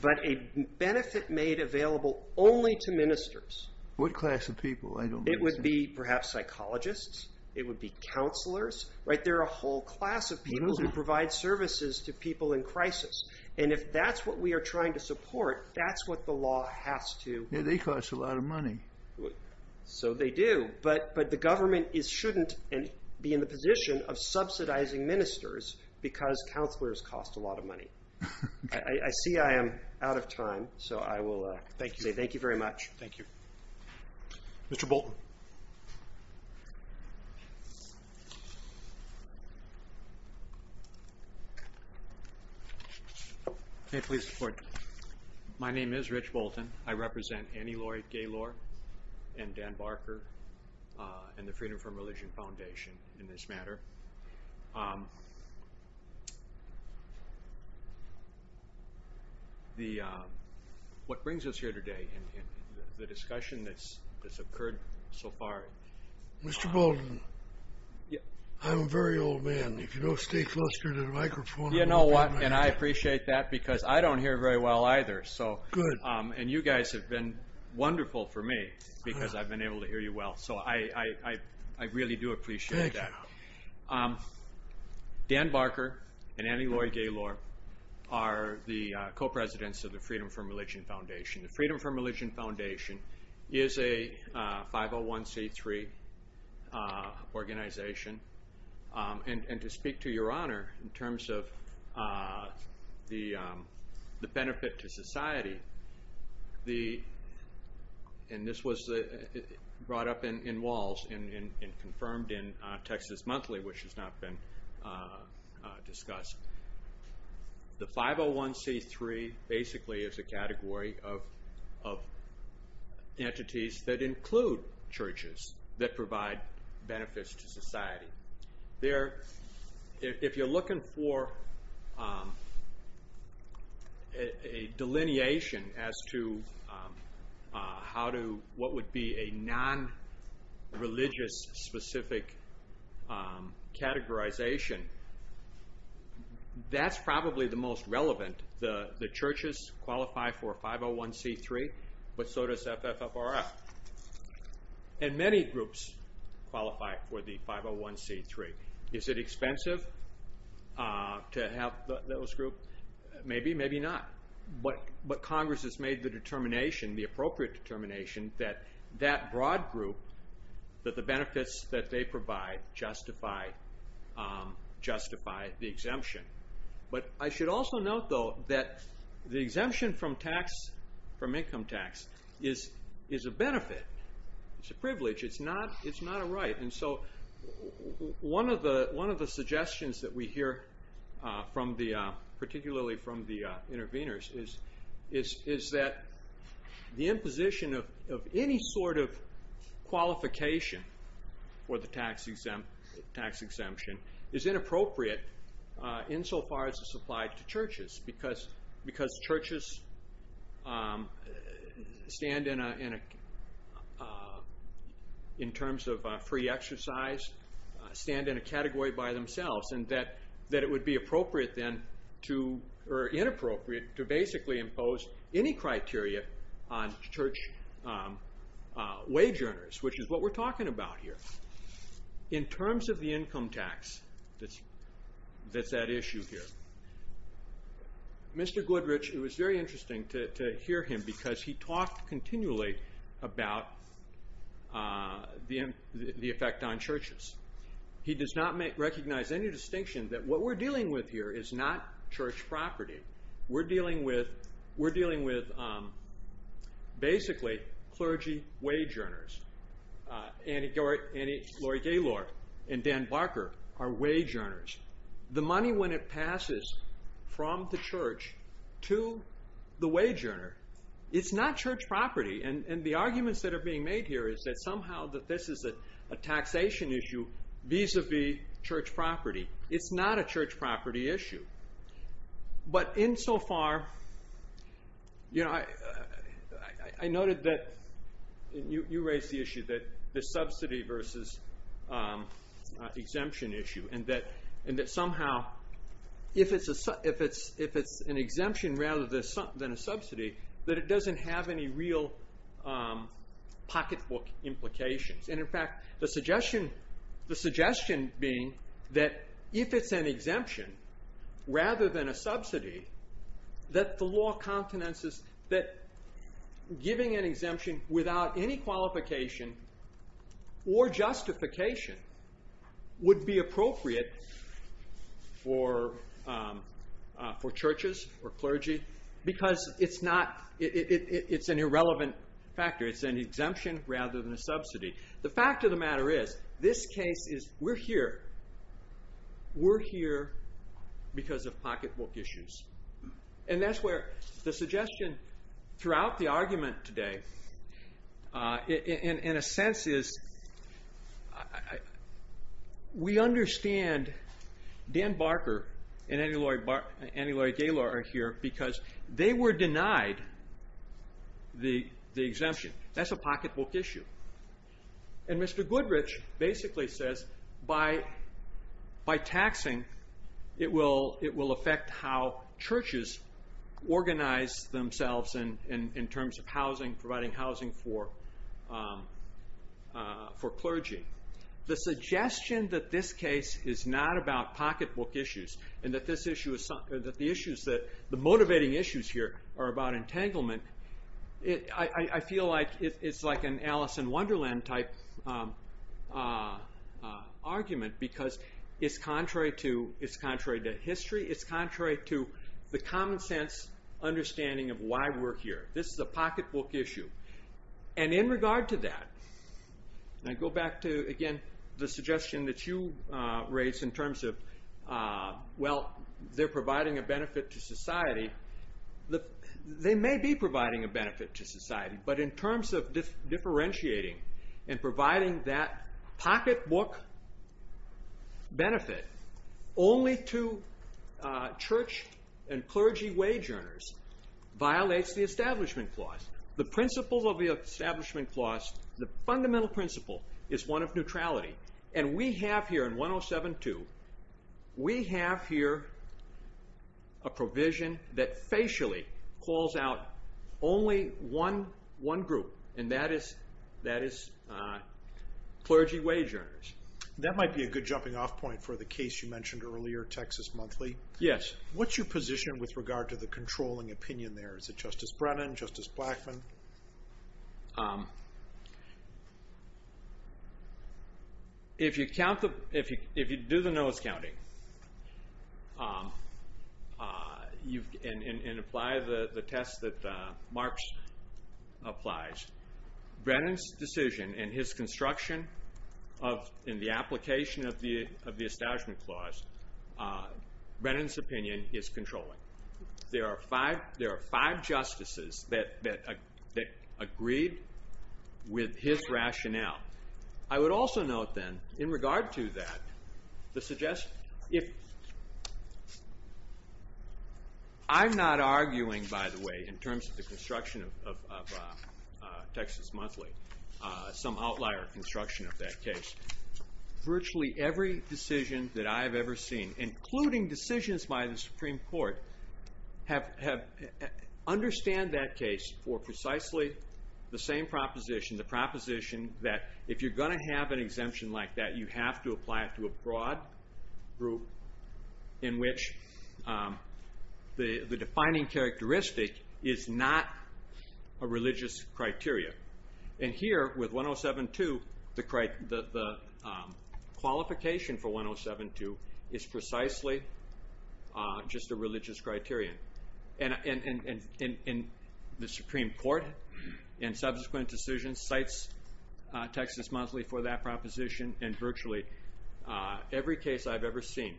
but a benefit made available only to ministers. What class of people? It would be perhaps psychologists. It would be counselors. Right, there are a whole class of people who provide services to people in crisis. And if that's what we are trying to support, that's what the law has to- Yeah, they cost a lot of money. So they do. But the government shouldn't be in the position of subsidizing ministers because counselors cost a lot of money. I see I am out of time. So I will say thank you very much. Thank you. Mr. Bolton. Thank you. May I please report? My name is Rich Bolton. I represent Annie Lloyd Gaylor and Dan Barker and the Freedom From Religion Foundation in this matter. What brings us here today and the discussion that's occurred so far- Mr. Bolton, I'm a very old man. If you don't stay closer to the microphone- You know what, and I appreciate that because I don't hear very well either. So, and you guys have been wonderful for me because I've been able to hear you well. So I really do appreciate that. Dan Barker and Annie Lloyd Gaylor are the co-presidents of the Freedom From Religion Foundation. The Freedom From Religion Foundation is a 501c3 organization. And to speak to your honor in terms of the benefit to society, and this was brought up in WALS and confirmed in Texas Monthly, which has not been discussed. The 501c3 basically is a category of entities that include churches that provide benefits to society. If you're looking for a delineation as to what would be a non-religious specific categorization, that's probably the most relevant. The churches qualify for 501c3, but so does FFFRF. And many groups qualify for the 501c3. Is it expensive to have those groups? Maybe, maybe not. But Congress has made the determination, the appropriate determination, that that broad group, that the benefits that they provide justify the exemption. But I should also note, though, that the exemption from income tax is a benefit. It's a privilege. It's not a right. And so one of the suggestions that we hear from the, particularly from the intervenors, is that the imposition of any sort of qualification for the tax exemption is inappropriate insofar as it's applied to churches, because churches stand in a, in terms of free exercise, stand in a category by themselves, and that it would be appropriate then to, or inappropriate, to basically impose any criteria on church wage earners, which is what we're talking about here. In terms of the income tax that's at issue here, Mr. Goodrich, it was very interesting to hear him, because he talked continually about the effect on churches. He does not recognize any distinction that what we're dealing with here is not church property. We're dealing with, we're dealing with basically clergy wage earners, Annie Lori Gaylor and Dan Barker are wage earners. The money, when it passes from the church to the wage earner, it's not church property, and the arguments that are being made here is that somehow that this is a taxation issue vis-a-vis church property. It's not a church property issue. But insofar, I noted that, and you raised the issue that the subsidy versus exemption issue, and that somehow, if it's an exemption rather than a subsidy, that it doesn't have any real pocketbook implications. And in fact, the suggestion being that if it's an exemption rather than a subsidy, that the law countenances, that giving an exemption without any qualification or justification would be appropriate for churches or clergy because it's not, it's an irrelevant factor. It's an exemption rather than a subsidy. The fact of the matter is, this case is, we're here. We're here because of pocketbook issues. And that's where the suggestion throughout the argument today, in a sense is, we understand Dan Barker and Annie-Laurie Gaylor are here because they were denied the exemption. That's a pocketbook issue. And Mr. Goodrich basically says by taxing, it will affect how churches organize themselves in terms of housing, providing housing for clergy. The suggestion that this case is not about pocketbook issues and that the issues that, the motivating issues here are about entanglement, I feel like it's like an Alice in Wonderland type argument because it's contrary to history, it's contrary to the common sense understanding of why we're here. This is a pocketbook issue. And in regard to that, and I go back to, again, the suggestion that you raised in terms of, well, they're providing a benefit to society. They may be providing a benefit to society, but in terms of differentiating and providing that pocketbook benefit only to church and clergy wage earners violates the establishment clause. The principles of the establishment clause, the fundamental principle, is one of neutrality. And we have here in 107-2, we have here a provision that facially calls out only one group, and that is clergy wage earners. That might be a good jumping off point for the case you mentioned earlier, Texas Monthly. Yes. What's your position with regard to the controlling opinion there? Is it Justice Brennan, Justice Blackmun? If you do the nose counting and apply the test that Marx applies, Brennan's decision and his construction in the application of the establishment clause, Brennan's opinion is controlling. There are five justices that agreed with his rationale. I would also note then, in regard to that, the suggestion, I'm not arguing, by the way, in terms of the construction of Texas Monthly, some outlier construction of that case. Virtually every decision that I have ever seen, including decisions by the Supreme Court, understand that case for precisely the same proposition, the proposition that if you're gonna have an exemption like that, you have to apply it to a broad group in which the defining characteristic is not a religious criteria. And here, with 107.2, the qualification for 107.2 is precisely just a religious criteria. And the Supreme Court in subsequent decisions cites Texas Monthly for that proposition, and virtually every case I've ever seen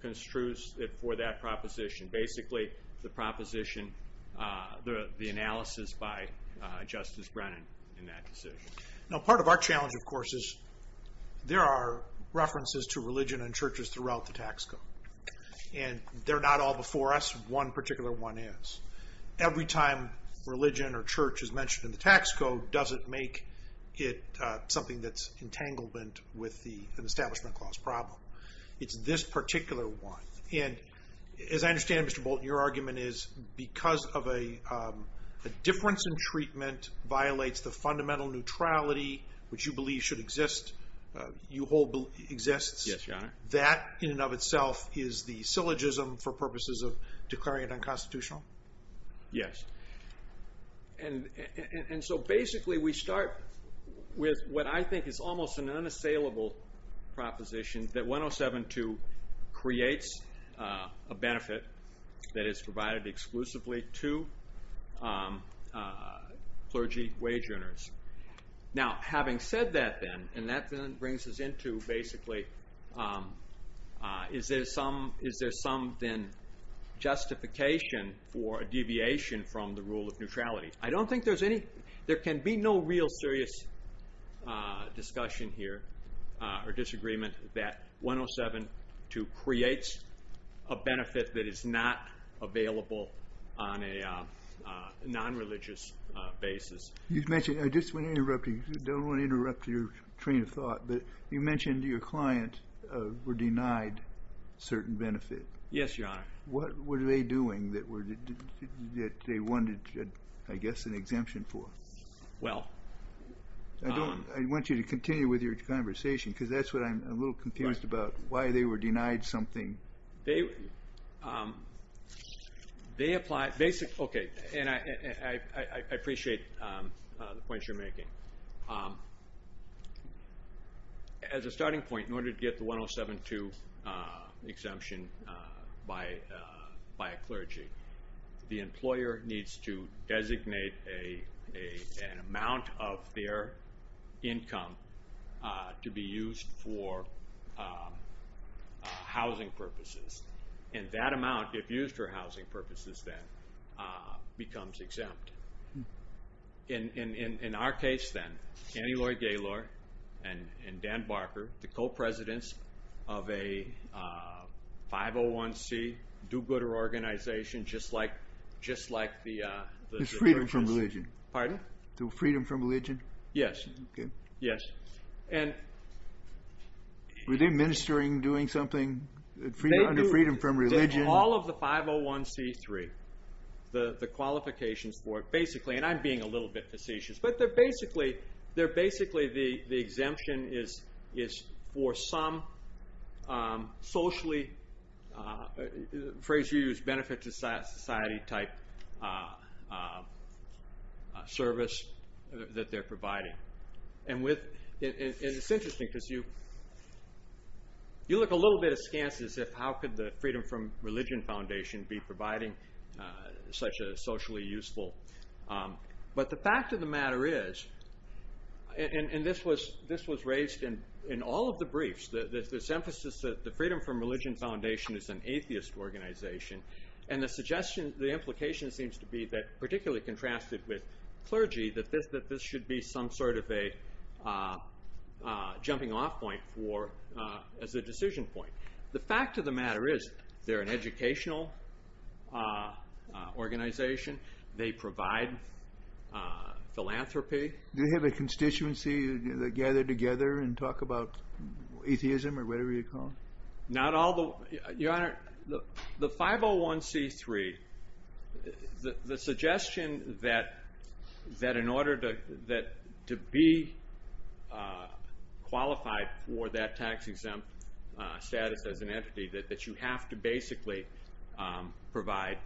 construes it for that proposition. Basically, the proposition, the analysis by Justice Brennan in that decision. Now, part of our challenge, of course, is there are references to religion and churches throughout the tax code. And they're not all before us. One particular one is. Every time religion or church is mentioned in the tax code, does it make it something that's entanglement with an establishment clause problem? It's this particular one. And as I understand, Mr. Bolton, your argument is because of a difference in treatment violates the fundamental neutrality which you believe should exist, you hold exists. Yes, Your Honor. That, in and of itself, is the syllogism for purposes of declaring it unconstitutional? Yes. And so basically, we start with what I think is almost an unassailable proposition that 107.2 creates a benefit that is provided exclusively to clergy wage earners. Now, having said that then, and that then brings us into basically, is there some then justification for a deviation from the rule of neutrality? I don't think there's any, there can be no real serious discussion here or disagreement that 107.2 creates a benefit that is not available on a non-religious basis. You've mentioned, I just wanna interrupt you, don't wanna interrupt your train of thought, but you mentioned your client were denied certain benefit. Yes, Your Honor. What were they doing that they wanted, I guess, an exemption for? Well. I don't, I want you to continue with your conversation, because that's what I'm a little confused about, why they were denied something. They applied, basic, okay, and I appreciate the points you're making. As a starting point, in order to get the 107.2 exemption by a clergy, the employer needs to designate an amount of their income to be used for housing purposes, and that amount, if used for housing purposes, then becomes exempt. In our case, then, Annie Lloyd Gaylord and Dan Barker, the co-presidents of a 501c do-gooder organization, just like the churches. It's freedom from religion. Pardon? Freedom from religion? Yes. Okay. Yes, and. Were they ministering, doing something under freedom from religion? All of the 501c3, the qualifications for it, basically, and I'm being a little bit facetious, but they're basically, they're basically, the exemption is for some socially, phrase you use, benefit to society type service that they're providing. And with, and it's interesting, because you, you look a little bit askance as if how could the freedom from religion foundation be providing such a socially useful, but the fact of the matter is, and this was raised in all of the briefs, this emphasis that the freedom from religion foundation is an atheist organization, and the suggestion, the implication seems to be that, particularly contrasted with clergy, that this should be some sort of a jumping off point for, as a decision point. The fact of the matter is, they're an educational organization. They provide philanthropy. Do they have a constituency that gather together and talk about atheism, or whatever you call it? Not all the, your honor, the 501c3, the suggestion that, that in order to be qualified for that tax exempt status as an entity, that you have to basically provide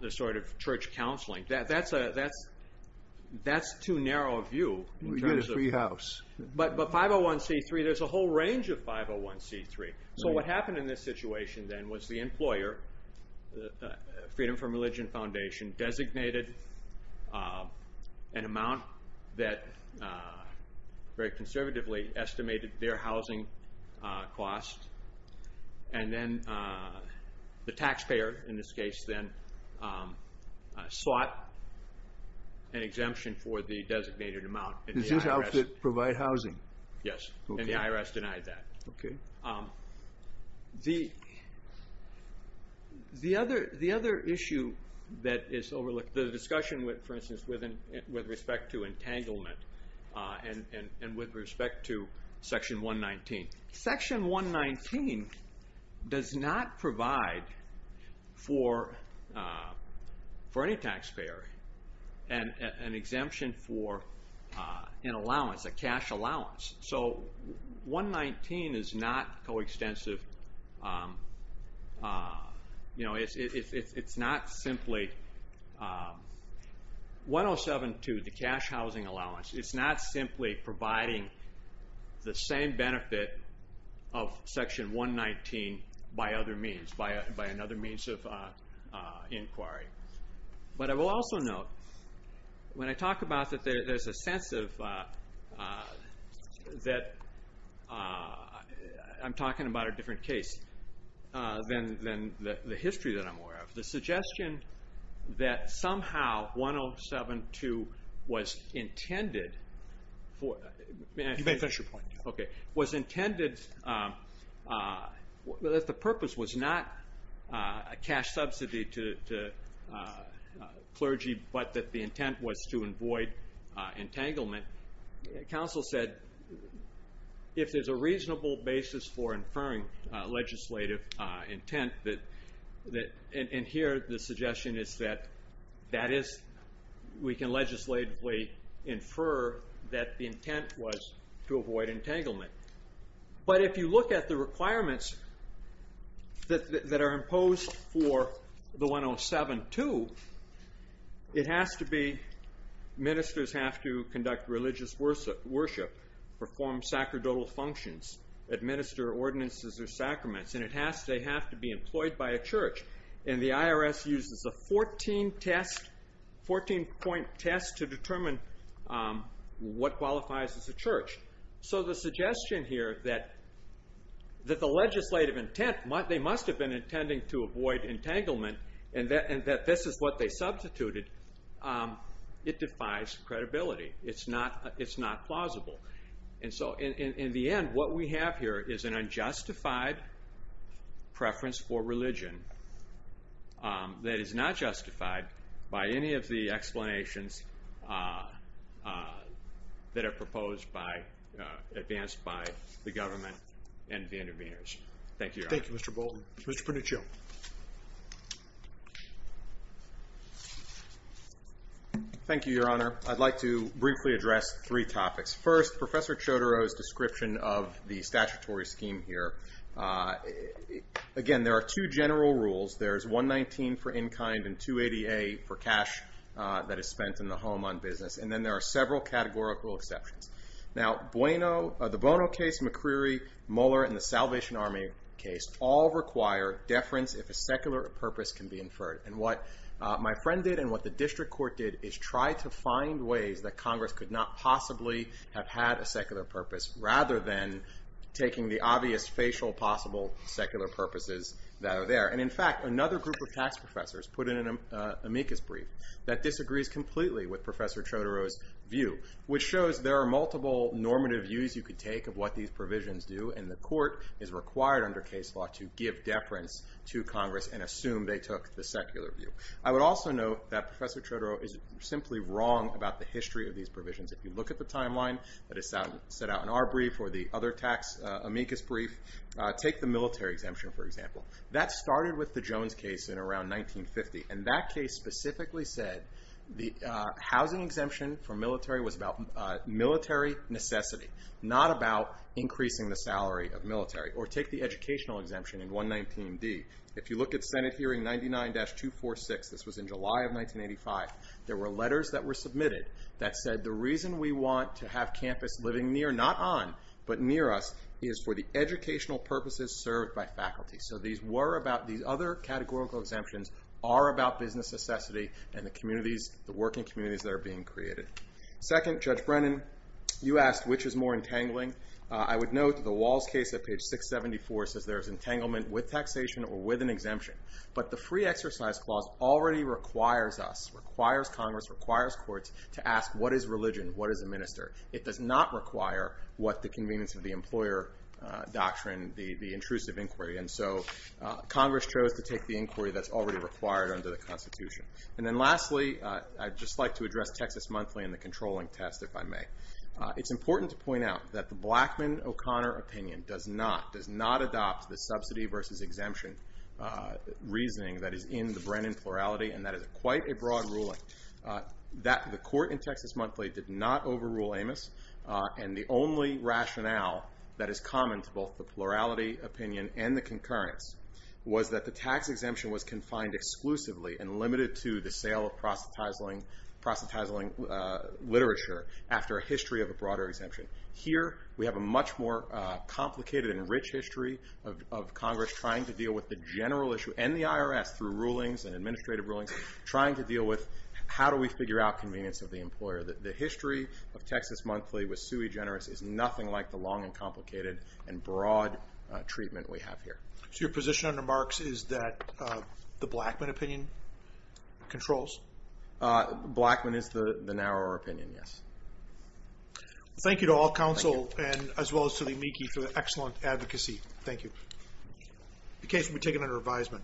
the sort of church counseling. That's a, that's too narrow a view. In terms of. You get a free house. But 501c3, there's a whole range of 501c3. So what happened in this situation then, was the employer, freedom from religion foundation, designated an amount that very conservatively estimated their housing cost, and then the taxpayer, in this case then, sought an exemption for the designated amount. And the IRS. Did you have to provide housing? Yes. And the IRS denied that. Okay. The other issue that is overlooked, the discussion with, for instance, with respect to entanglement, and with respect to section 119. Section 119 does not provide for for any taxpayer, an exemption for an allowance, a cash allowance. So 119 is not co-extensive. You know, it's not simply, 107 to the cash housing allowance. It's not simply providing the same benefit of section 119 by other means. By another means of inquiry. But I will also note, when I talk about that there's a sense of, that, I'm talking about a different case than the history that I'm aware of. The suggestion that somehow 107-2 was intended for, you may finish your point. Okay. Was intended, was intended, that the purpose was not a cash subsidy to clergy, but that the intent was to avoid entanglement. Council said, if there's a reasonable basis for inferring legislative intent that, and here the suggestion is that, that is, we can legislatively infer that the intent was to avoid entanglement. But if you look at the requirements that are imposed for the 107-2, it has to be, ministers have to conduct religious worship, perform sacerdotal functions, administer ordinances or sacraments. And it has to, they have to be employed by a church. And the IRS uses a 14 test, 14 point test to determine what qualifies as a church. So the suggestion here that, that the legislative intent, they must have been intending to avoid entanglement, and that this is what they substituted, it defies credibility. It's not plausible. And so in the end, what we have here is an unjustified preference for religion that is not justified by any of the explanations that are proposed by, advanced by the government and the interveners. Thank you, Your Honor. Thank you, Mr. Bolton. Mr. Pruniccio. Thank you, Your Honor. I'd like to briefly address three topics. First, Professor Chodoro's description of the statutory scheme here. Again, there are two general rules. There's 119 for in-kind and 280A for cash that is spent in the home on business. And then there are several categorical exceptions. Now, Bueno, the Bono case, McCreery, Muller, and the Salvation Army case all require deference if a secular purpose can be inferred. And what my friend did and what the district court did is try to find ways that Congress could not possibly have had a secular purpose, rather than taking the obvious facial possible secular purposes that are there. And in fact, another group of tax professors put in an amicus brief that disagrees completely with Professor Chodoro's view, which shows there are multiple normative views you could take of what these provisions do. And the court is required under case law to give deference to Congress and assume they took the secular view. I would also note that Professor Chodoro is simply wrong about the history of these provisions. If you look at the timeline that is set out in our brief or the other tax amicus brief, take the military exemption, for example. That started with the Jones case in around 1950. And that case specifically said the housing exemption for military was about military necessity, not about increasing the salary of military. Or take the educational exemption in 119D. If you look at Senate hearing 99-246, this was in July of 1985, there were letters that were submitted that said the reason we want to have campus living near, not on, but near us, is for the educational purposes served by faculty. So these other categorical exemptions are about business necessity and the working communities that are being created. Second, Judge Brennan, you asked which is more entangling. I would note that the Walls case at page 674 says there is entanglement with taxation or with an exemption. But the free exercise clause already requires us, requires Congress, requires courts, to ask what is religion, what is a minister. It does not require what the convenience of the employer doctrine, the intrusive inquiry. And so Congress chose to take the inquiry that's already required under the Constitution. And then lastly, I'd just like to address Texas Monthly and the controlling test, if I may. It's important to point out that the Blackmun-O'Connor opinion does not, does not adopt the subsidy versus exemption reasoning that is in the Brennan plurality. And that is quite a broad ruling. That the court in Texas Monthly did not overrule Amos. And the only rationale that is common to both the plurality opinion and the concurrence was that the tax exemption was confined exclusively and limited to the sale of proselytizing literature after a history of a broader exemption. Here, we have a much more complicated and rich history of Congress trying to deal with the general issue and the IRS through rulings and administrative rulings, trying to deal with how do we figure out convenience of the employer. The history of Texas Monthly with Suey Generous is nothing like the long and complicated and broad treatment we have here. So your position under Marks is that the Blackmun opinion controls? Blackmun is the narrower opinion, yes. Thank you to all counsel and as well as to the amici for the excellent advocacy. Thank you. The case will be taken under advisement.